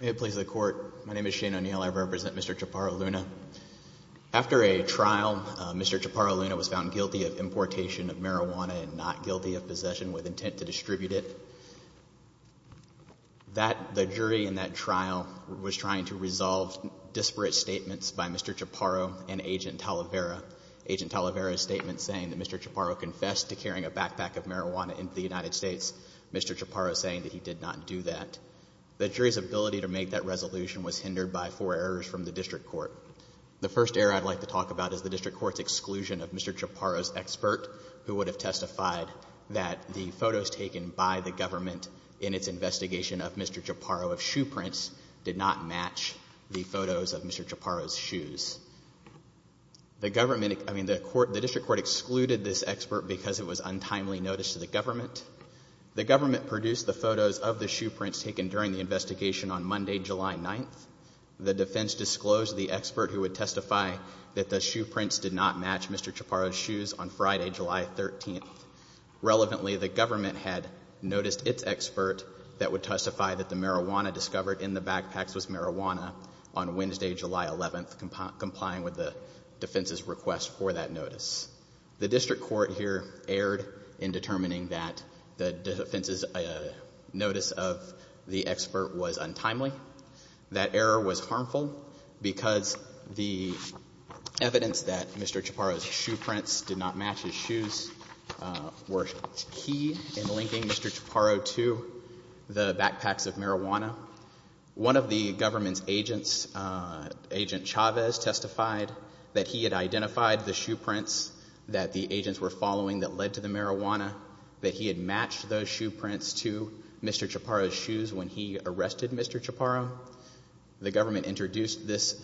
May it please the court. My name is Shane O'Neill. I represent Mr. Chaparro-Luna. After a trial, Mr. Chaparro-Luna was found guilty of importation of marijuana and not guilty of possession with intent to distribute it. That, the jury in that trial was trying to resolve disparate statements by Mr. Chaparro and Agent Talavera. Agent Talavera's statement saying that Mr. Chaparro confessed to carrying a backpack of marijuana into the United States, Mr. Chaparro saying that he did not do that. The jury's ability to make that resolution was hindered by four errors from the district court. The first error I'd like to talk about is the district court's exclusion of Mr. Chaparro's expert who would have testified that the photos taken by the government in its investigation of Mr. Chaparro of shoe prints did not match the photos of Mr. Chaparro's shoes. The government, I mean, the court, the district court excluded this expert because it was untimely noticed to the government. The government produced the photos of the shoe prints taken during the investigation on Monday, July 9th. The defense disclosed the expert who would testify that the shoe prints did not match Mr. Chaparro's shoes on Friday, July 13th. Relevantly, the government had noticed its expert that would testify that the marijuana discovered in the backpacks was marijuana on Wednesday, July 11th, complying with the defense's request for that notice. The district court here erred in determining that the defense's notice of the expert was untimely. That error was harmful because the evidence that Mr. Chaparro's shoe prints did not match his shoes were key in linking Mr. Chaparro to the backpacks of marijuana. One of the government's agents, Agent Chavez, testified that he had identified the shoe prints that the agents were following that led to the marijuana, that he had matched those shoe prints to Mr. Chaparro's shoes when he arrested Mr. Chaparro. The government introduced this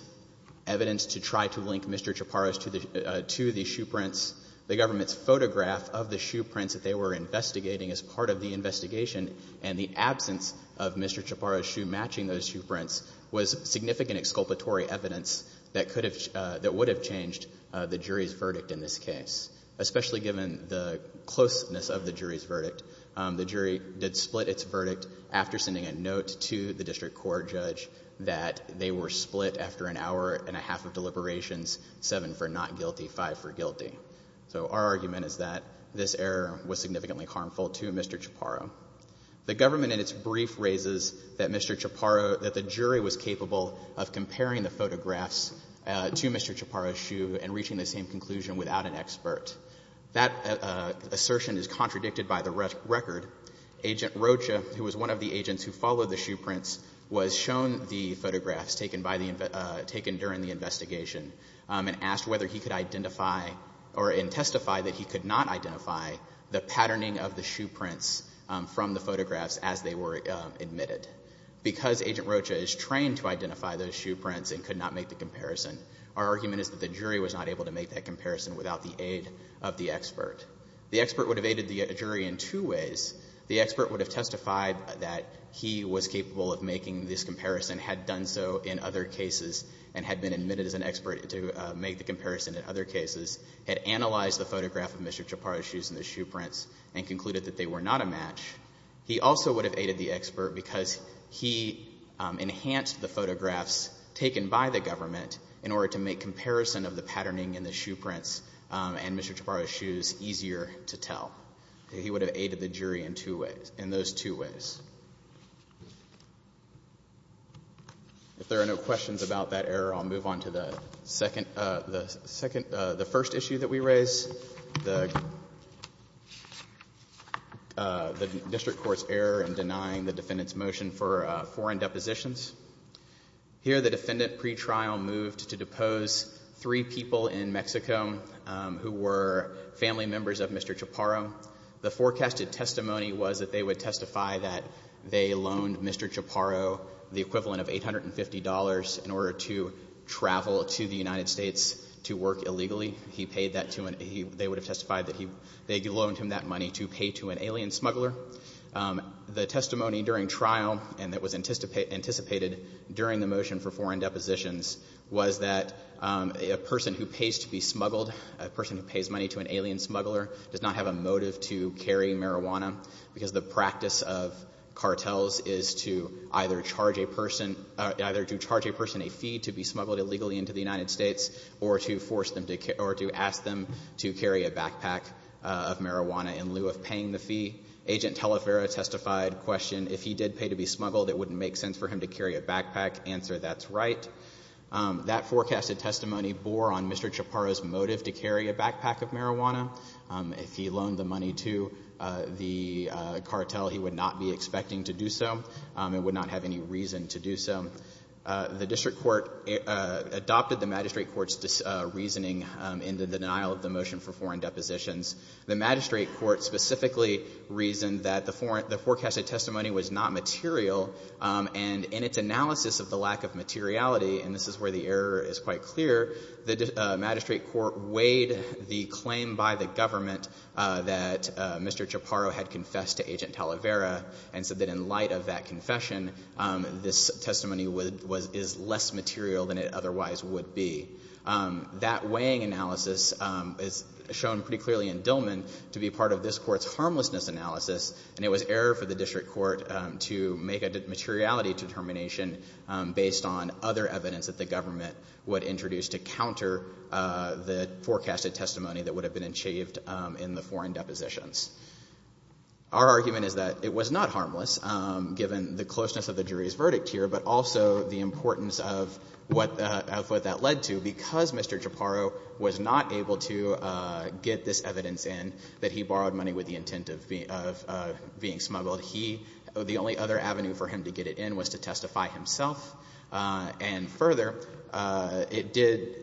evidence to try to link Mr. Chaparro's to the shoe prints. The government's photograph of the shoe prints that they were investigating as part of the investigation and the absence of Mr. Chaparro's shoe matching those shoe prints was significant exculpatory evidence that would have changed the jury's verdict in this case, especially given the closeness of the jury's verdict. The jury did split its verdict after sending a note to the district court judge that they were split after an hour and a half of deliberations, seven for not guilty, five for guilty. So our argument is that this error was significantly harmful to Mr. Chaparro. The government in its brief raises that Mr. Chaparro, that the jury was capable of comparing the photographs to Mr. Chaparro's shoe and that assertion is contradicted by the record. Agent Rocha, who was one of the agents who followed the shoe prints, was shown the photographs taken by the, taken during the investigation and asked whether he could identify or testify that he could not identify the patterning of the shoe prints from the photographs as they were admitted. Because Agent Rocha is trained to identify those shoe prints and could not make the comparison, our argument is that the jury was not able to make that comparison without the aid of the expert. The expert would have aided the jury in two ways. The expert would have testified that he was capable of making this comparison, had done so in other cases and had been admitted as an expert to make the comparison in other cases, had analyzed the photograph of Mr. Chaparro's shoes and the shoe prints and concluded that they were not a match. He also would have aided the expert because he enhanced the photographs taken by the government in Mr. Chaparro's shoes easier to tell. He would have aided the jury in two ways, in those two ways. If there are no questions about that error, I'll move on to the second, the second, the first issue that we raise, the, the district court's error in denying the defendant's motion for foreign depositions. Here the defendant pretrial moved to depose three people in Mexico who were family members of Mr. Chaparro. The forecasted testimony was that they would testify that they loaned Mr. Chaparro the equivalent of $850 in order to travel to the United States to work illegally. He paid that to an, he, they would have testified that he, they loaned him that money to pay to an alien smuggler. The testimony during the trial and that was anticipated, anticipated during the motion for foreign depositions was that a person who pays to be smuggled, a person who pays money to an alien smuggler does not have a motive to carry marijuana because the practice of cartels is to either charge a person, either to charge a person a fee to be smuggled illegally into the United States or to force them to, or to ask them to carry a backpack of marijuana in lieu of a fee to be smuggled. It wouldn't make sense for him to carry a backpack. Answer, that's right. That forecasted testimony bore on Mr. Chaparro's motive to carry a backpack of marijuana. If he loaned the money to the cartel, he would not be expecting to do so. It would not have any reason to do so. The district court adopted the magistrate court's reasoning in the denial of the motion for foreign depositions. The magistrate court specifically reasoned that the forecasted testimony was not material and in its analysis of the lack of materiality, and this is where the error is quite clear, the magistrate court weighed the claim by the government that Mr. Chaparro had confessed to Agent Talavera and said that in light of that confession, this testimony is less material than it otherwise would be. That weighing analysis is shown pretty clearly in Dillman to be part of this court's harmlessness analysis, and it was error for the district court to make a materiality determination based on other evidence that the government would introduce to counter the forecasted testimony that would have been achieved in the foreign depositions. Our argument is that it was not harmless given the closeness of the jury's verdict here, but also the importance of what that led to because Mr. Chaparro was not able to get this testimony, and that was not the intent of being smuggled. He, the only other avenue for him to get it in was to testify himself, and further, it did,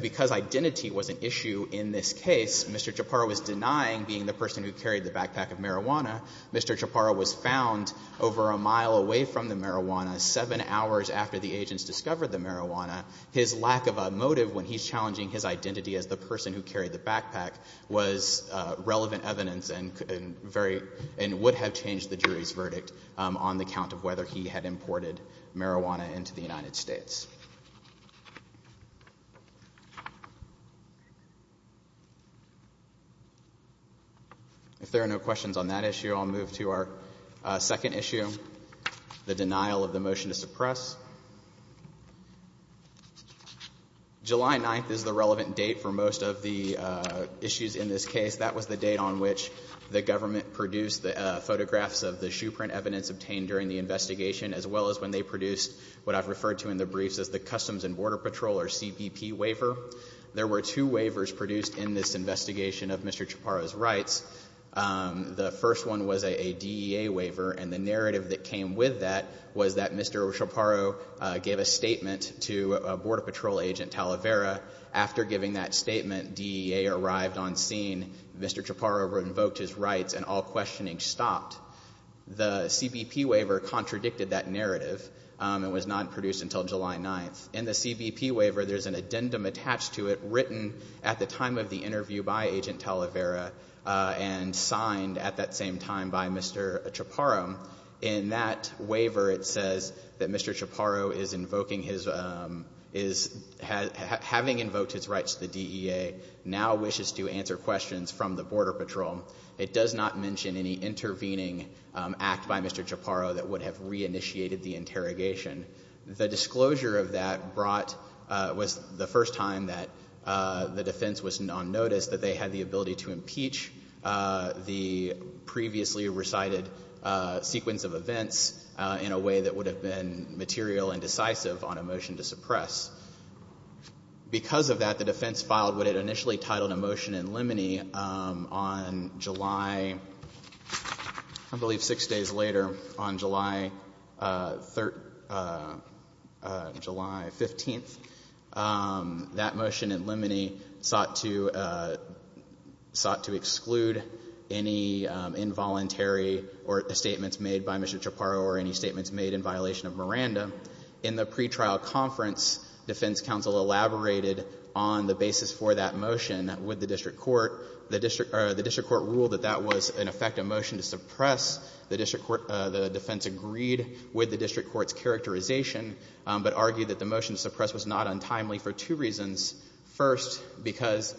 because identity was an issue in this case, Mr. Chaparro was denying being the person who carried the backpack of marijuana. Mr. Chaparro was found over a mile away from the marijuana, 7 hours after the agents discovered the marijuana. His lack of a motive when he's challenging his identity as the person who carried the backpack was relevant evidence and would have changed the jury's verdict on the count of whether he had imported marijuana into the United States. If there are no questions on that issue, I'll move to our second issue, the denial of the warrant. July 9th is the relevant date for most of the issues in this case. That was the date on which the government produced the photographs of the shoe print evidence obtained during the investigation, as well as when they produced what I've referred to in the briefs as the Customs and Border Patrol, or CBP, waiver. There were two waivers produced in this investigation of Mr. Chaparro's rights. The first one was a DEA waiver, and the narrative that came with that was that Mr. Chaparro gave a statement to Border Patrol Agent Talavera. After giving that statement, DEA arrived on scene, Mr. Chaparro revoked his rights, and all questioning stopped. The CBP waiver contradicted that narrative. It was not produced until July 9th. In the CBP waiver, there's an addendum attached to it, written at the time of the waiver, it says that Mr. Chaparro is invoking his, having invoked his rights to the DEA, now wishes to answer questions from the Border Patrol. It does not mention any intervening act by Mr. Chaparro that would have reinitiated the interrogation. The disclosure of that brought, was the first time that the defense was on notice that they had the ability to suppress. Because of that, the defense filed what it initially titled a motion in limine on July, I believe six days later, on July 3rd, July 15th. That motion in limine sought to, sought to exclude any involuntary or statements made by Mr. Chaparro to the DEA or any statements made in violation of Miranda. In the pre-trial conference, defense counsel elaborated on the basis for that motion with the district court. The district, the district court ruled that that was, in effect, a motion to suppress. The district court, the defense agreed with the district court's characterization, but argued that the motion to suppress was not untimely for two reasons. First, because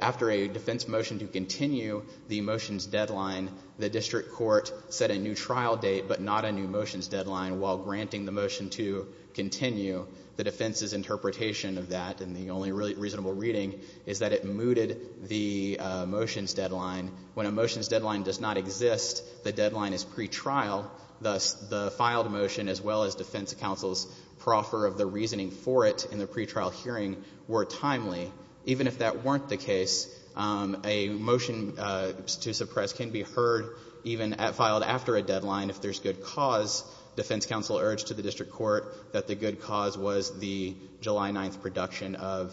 after a defense motion to continue the motion's deadline, the district court set a new trial date, but not a new motion's deadline, while granting the motion to continue. The defense's interpretation of that, and the only really reasonable reading, is that it mooted the motion's deadline. When a motion's deadline does not exist, the deadline is pre-trial. Thus, the filed motion, as well as defense counsel's proffer of the reasoning for it in the pre-trial hearing, were timely. Even if that weren't the case, a motion to suppress can be heard even at filed after a deadline if there's good cause. Defense counsel urged to the district court that the good cause was the July 9th production of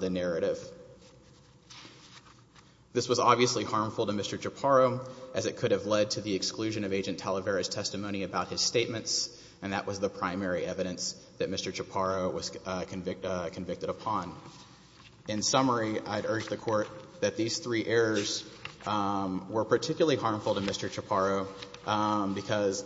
the narrative. This was obviously harmful to Mr. Chaparro, as it could have led to the exclusion of Agent Talavera's testimony about his statements, and that was the primary evidence that Mr. Chaparro was convicted upon. In summary, I'd urge the Court that these three errors were particularly harmful to Mr. Chaparro, because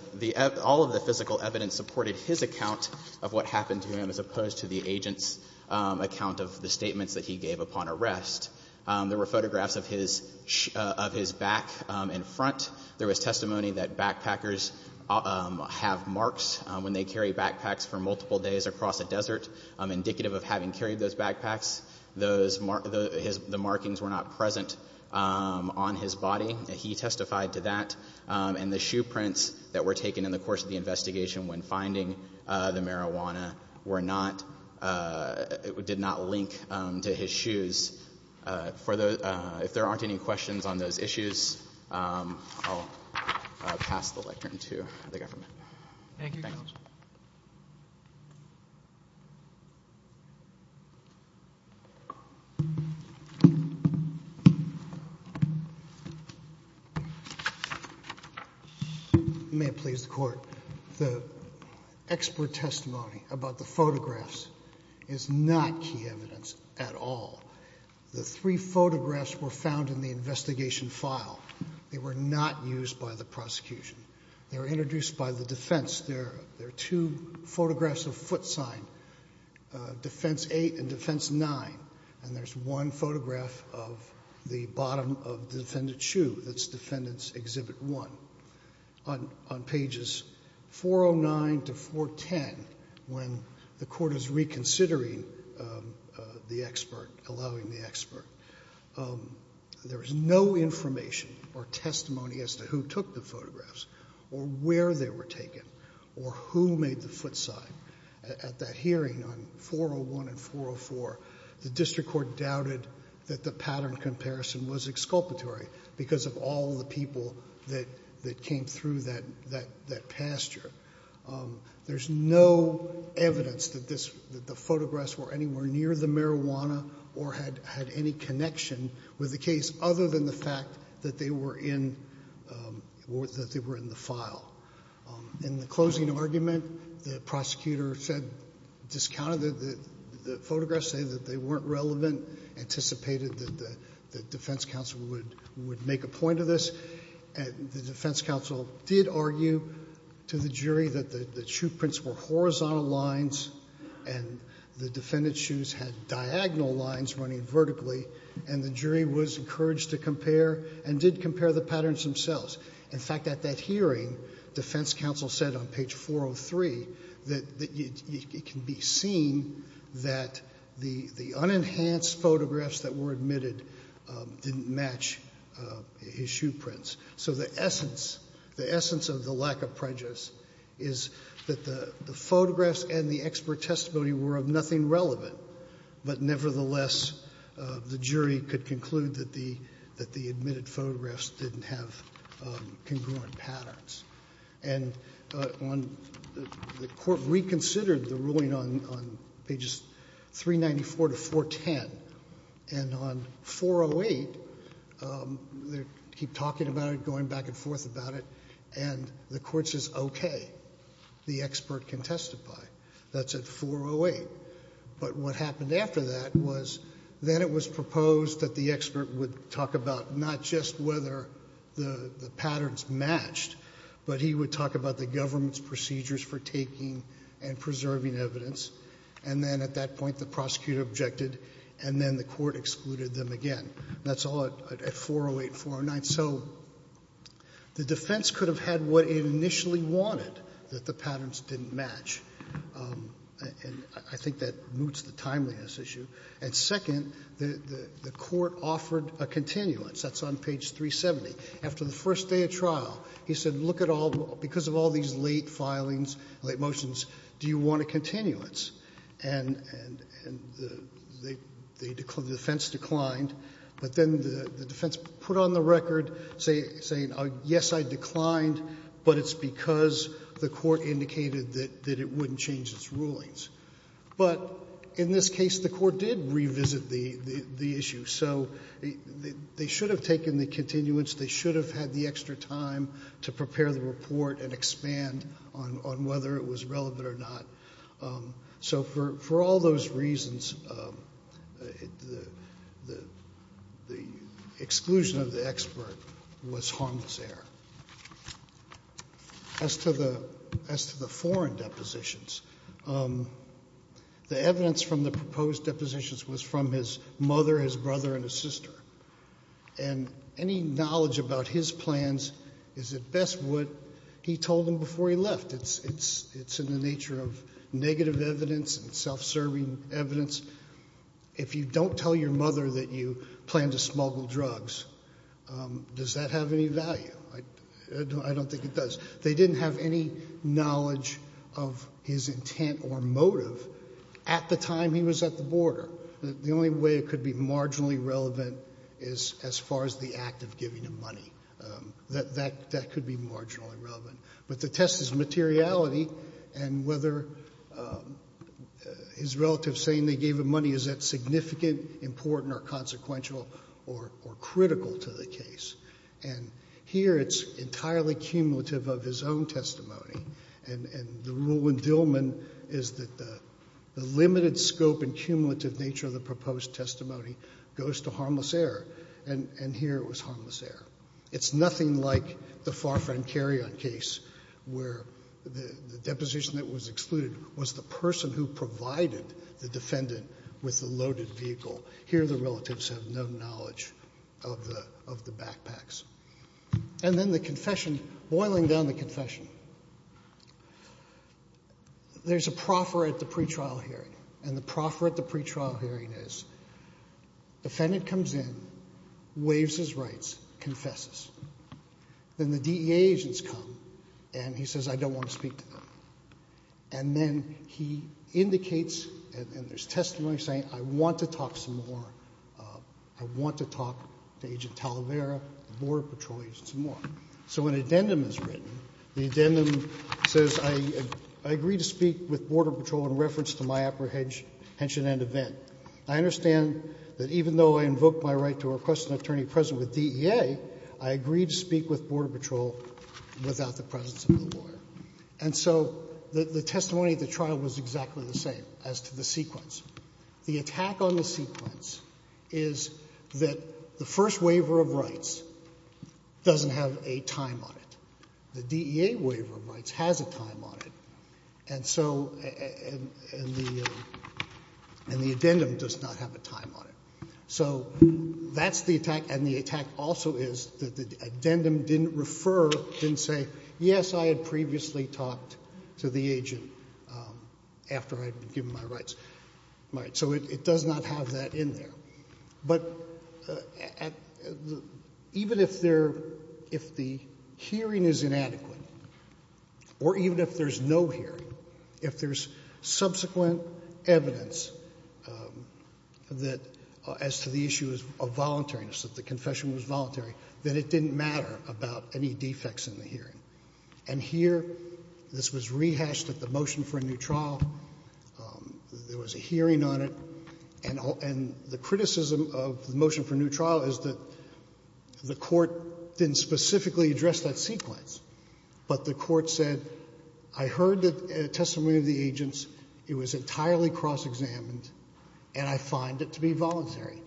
all of the physical evidence supported his account of what happened to him, as opposed to the agent's account of the statements that he gave upon arrest. There were photographs of his back and front. There was testimony that backpackers have marks when they carry backpacks for multiple days across a desert, indicative of having carried those backpacks. The markings were not present on his body. He testified to that. And the shoe prints that were taken in the course of the investigation when finding the marijuana did not link to his shoes. If there aren't any questions on those issues, I'll pass the lectern to the government. Thank you, Your Honor. May it please the Court. The expert testimony about the photographs is not key evidence at all. The three photographs were found in the investigation file. They were not used by the prosecution. They were introduced by the defense. There are two photographs of foot sign, defense eight and defense nine. And there's one photograph of the bottom of the defendant's shoe. That's defendant's exhibit one. On pages 409 to 410, when the Court is reconsidering the expert, allowing the expert, there is no information or testimony as to who took the photographs or where they were taken or who made the foot sign. At that hearing on 401 and 404, the district court doubted that the pattern comparison was exculpatory because of all the people that came through that pasture. There's no evidence that the photographs were anywhere near the marijuana or had any connection with the case other than the fact that they were in the file. In the closing argument, the prosecutor said, discounted the photographs, said that they weren't relevant, anticipated that the defense counsel would make a point of this. The defense counsel did argue to the jury that the shoe prints were horizontal lines and the defendant's shoes had diagonal lines running vertically, and the jury was encouraged to compare and did compare the patterns themselves. In fact, at that hearing, defense counsel said on page 403 that it can be seen that the unenhanced photographs that were admitted didn't match his shoe prints. So the essence, the essence of the lack of prejudice is that the photographs and the expert testimony were of nothing relevant, but nevertheless, the jury could conclude that the admitted photographs didn't have congruent patterns. And on the court reconsidered the ruling on pages 394 to 410, and on 408, they keep talking about it, going back and forth about it, and the court says, okay, the expert can testify. That's at 408. But what happened after that was then it was proposed that the expert would talk about not just whether the patterns matched, but he would talk about the government's procedures for taking and preserving evidence, and then at that point the prosecutor objected, and then the court excluded them again. That's all at 408, 409. So the defense could have had what it initially wanted, that the patterns didn't match. And I think that moots the timeliness issue. And second, the court offered a continuance. That's on page 370. After the first day of trial, he said, look at all the — because of all these late filings, late motions, do you want a continuance? And the defense declined. But then the defense put on the record saying, yes, I declined, but it's because the court indicated that it wouldn't change its rulings. But in this case, the court did revisit the issue. So they should have taken the continuance. They should have had the extra time to prepare the report and expand on whether it was relevant or not. So for all those reasons, the exclusion of the expert was harmless error. As to the — as to the foreign depositions, the evidence from the proposed depositions was from his mother, his brother, and his sister. And any knowledge about his plans is at best what he told them before he left. It's in the nature of negative evidence and self-serving evidence. If you don't tell your mother that you plan to smuggle drugs, does that have any value? I don't think it does. They didn't have any knowledge of his intent or motive at the time he was at the border. The only way it could be marginally relevant is as far as the act of giving him money. That could be marginally relevant. But the test is materiality, and whether his relatives saying they gave him money, is that significant, important, or consequential, or critical to the case? And here it's entirely cumulative of his own testimony. And the rule in Dillman is that the limited scope and cumulative nature of the proposed testimony goes to harmless error. And here it was harmless error. It's nothing like the Farfran-Carrion case, where the deposition that was excluded was the person who provided the defendant with the loaded vehicle. Here the relatives have no knowledge of the backpacks. And then the confession, boiling down the confession, there's a proffer at the pretrial hearing. And the proffer at the pretrial hearing is, defendant comes in, waives his rights, confesses. Then the DEA agents come, and he says, I don't want to speak to them. And then he indicates, and there's testimony saying, I want to talk some more. I want to talk to Agent Talavera, the Border Patrol agent, some more. So an addendum is written. The addendum says, I agree to speak with Border Patrol in reference to my apprehension and event. I understand that even though I invoke my right to request an attorney present with DEA, I agree to speak with Border Patrol without the presence of the lawyer. And so the testimony at the trial was exactly the same as to the sequence. The attack on the sequence is that the first waiver of rights doesn't have a time on it. The DEA waiver of rights has a time on it. And so, and the addendum does not have a time on it. So that's the attack. And the attack also is that the addendum didn't refer, didn't say, yes, I had previously talked to the agent. After I had given my rights. So it does not have that in there. But even if there, if the hearing is inadequate, or even if there's no hearing, if there's subsequent evidence that, as to the issue of voluntariness, that the confession was voluntary, then it didn't matter about any defects in the hearing. And here, this was rehashed at the motion for a new trial. There was a hearing on it. And the criticism of the motion for a new trial is that the court didn't specifically address that sequence. But the court said, I heard the testimony of the agents. It was entirely cross-examined. And I find it to be voluntary.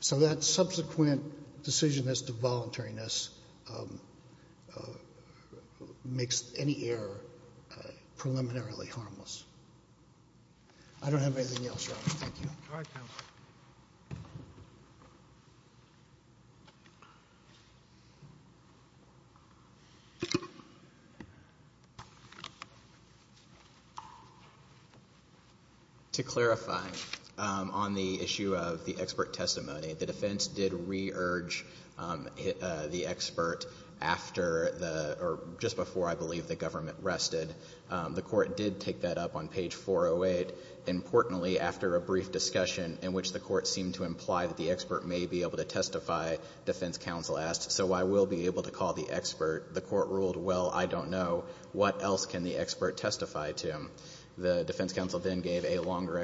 So that subsequent decision as to voluntariness makes any error preliminarily harmless. I don't have anything else, Your Honor. Thank you. All right, counsel. To clarify on the issue of the expert testimony, the defense did re-urge the expert after the, or just before, I believe, the government rested. The court did take that up on page 408. Importantly, after a brief discussion in which the court seemed to imply that the expert may be able to testify, defense counsel asked, so I will be able to call the expert. The court ruled, well, I don't know. What else can the expert testify to? The defense counsel then gave a longer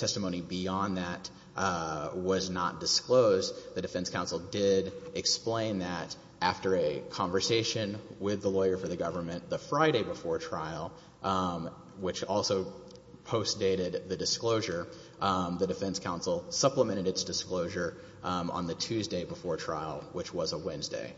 testimony beyond that was not disclosed. The defense counsel did explain that after a conversation with the lawyer for the government the Friday before trial, which also post-dated the disclosure, the defense counsel supplemented its disclosure on the Tuesday before trial, which was a Wednesday.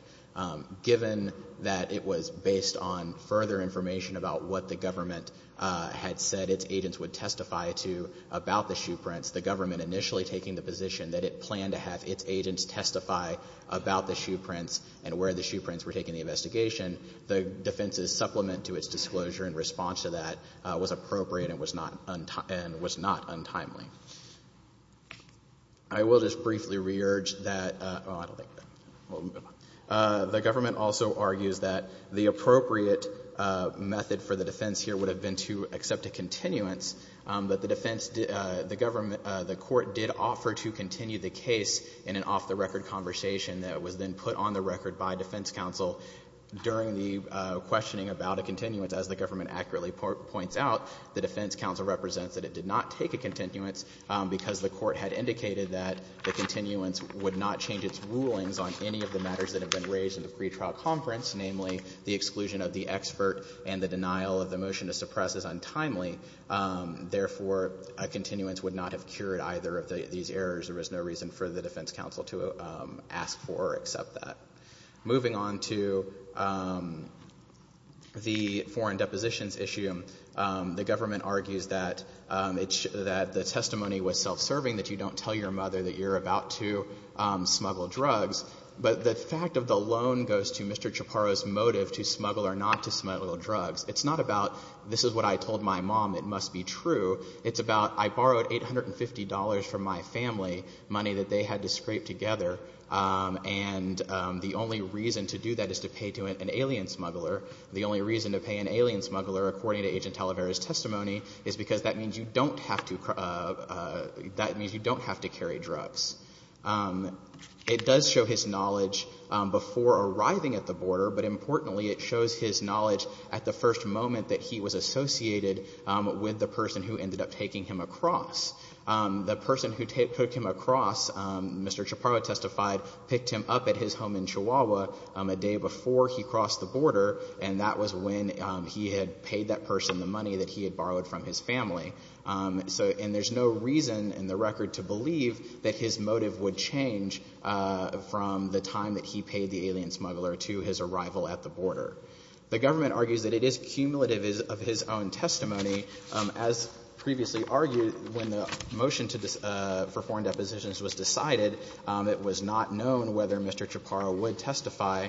Given that it was based on further information about what the government had said its agents would testify to about the shoe prints, the government initially taking the position that it planned to have its agents testify about the shoe prints and where the shoe prints were taken in the investigation, the defense's supplement to its disclosure in response to that was appropriate and was not untimely. I will just briefly re-urge that the government also argues that the appropriate method for the defense here would have been to accept a continuance, but the defense, the government, the court did offer to continue the case in an off-the-record conversation that was then put on the record by defense counsel during the questioning about a continuance. As the government accurately points out, the defense counsel represents that it did not take a continuance because the court had indicated that the continuance would not change its rulings on any of the matters that have been raised in the pretrial conference, namely, the exclusion of the expert and the denial of the motion to suppress is untimely. Therefore, a continuance would not have cured either of these errors. There was no reason for the defense counsel to ask for or accept that. Moving on to the foreign depositions issue, the government argues that the testimony was self-serving, that you don't tell your mother that you're about to smuggle drugs, but the fact of the loan goes to Mr. Chaparro's motive to smuggle or not to smuggle drugs. It's not about this is what I told my mom, it must be true. It's about I borrowed $850 million from my family, money that they had to scrape together. And the only reason to do that is to pay to an alien smuggler. The only reason to pay an alien smuggler, according to Agent Talavera's testimony, is because that means you don't have to carry drugs. It does show his knowledge before arriving at the border, but importantly, it shows his knowledge at the first moment that he was associated with the person who ended up taking him across. The person who took him across, Mr. Chaparro testified, picked him up at his home in Chihuahua a day before he crossed the border, and that was when he had paid that person the money that he had borrowed from his family. And there's no reason in the record to believe that his motive would change from the time that he paid the alien smuggler to his arrival at the border. The government argues that it is cumulative of his own testimony. As previously argued, when the motion for foreign depositions was decided, it was not known whether Mr. Chaparro would testify.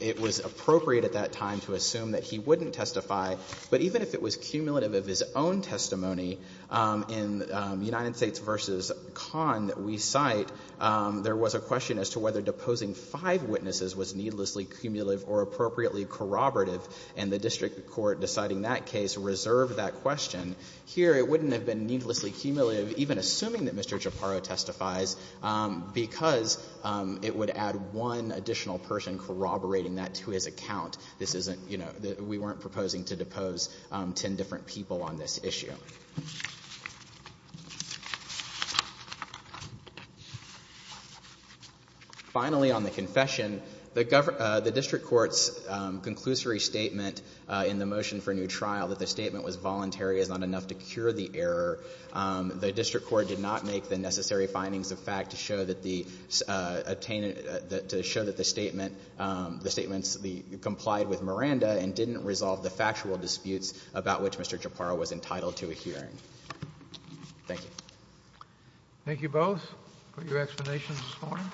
It was appropriate at that time to assume that he wouldn't testify. But even if it was cumulative of his own testimony, in United States v. Khan that we cite, there was a question as to whether deposing five witnesses was needlessly cumulative or appropriately corroborative, and the district court deciding that case reserved that question. Here it wouldn't have been needlessly cumulative, even assuming that Mr. Chaparro testifies, because it would add one additional person corroborating that to his account. This isn't, you know, we weren't proposing to depose ten different people on this issue. Finally, on the confession, the district court's conclusory statement in the motion for new trial that the statement was voluntary is not enough to cure the error. The district court did not make the necessary findings of fact to show that the statement complied with Miranda and didn't resolve the factual disputes about which Mr. Chaparro was entitled to a hearing. Thank you. Thank you both for your explanations this morning.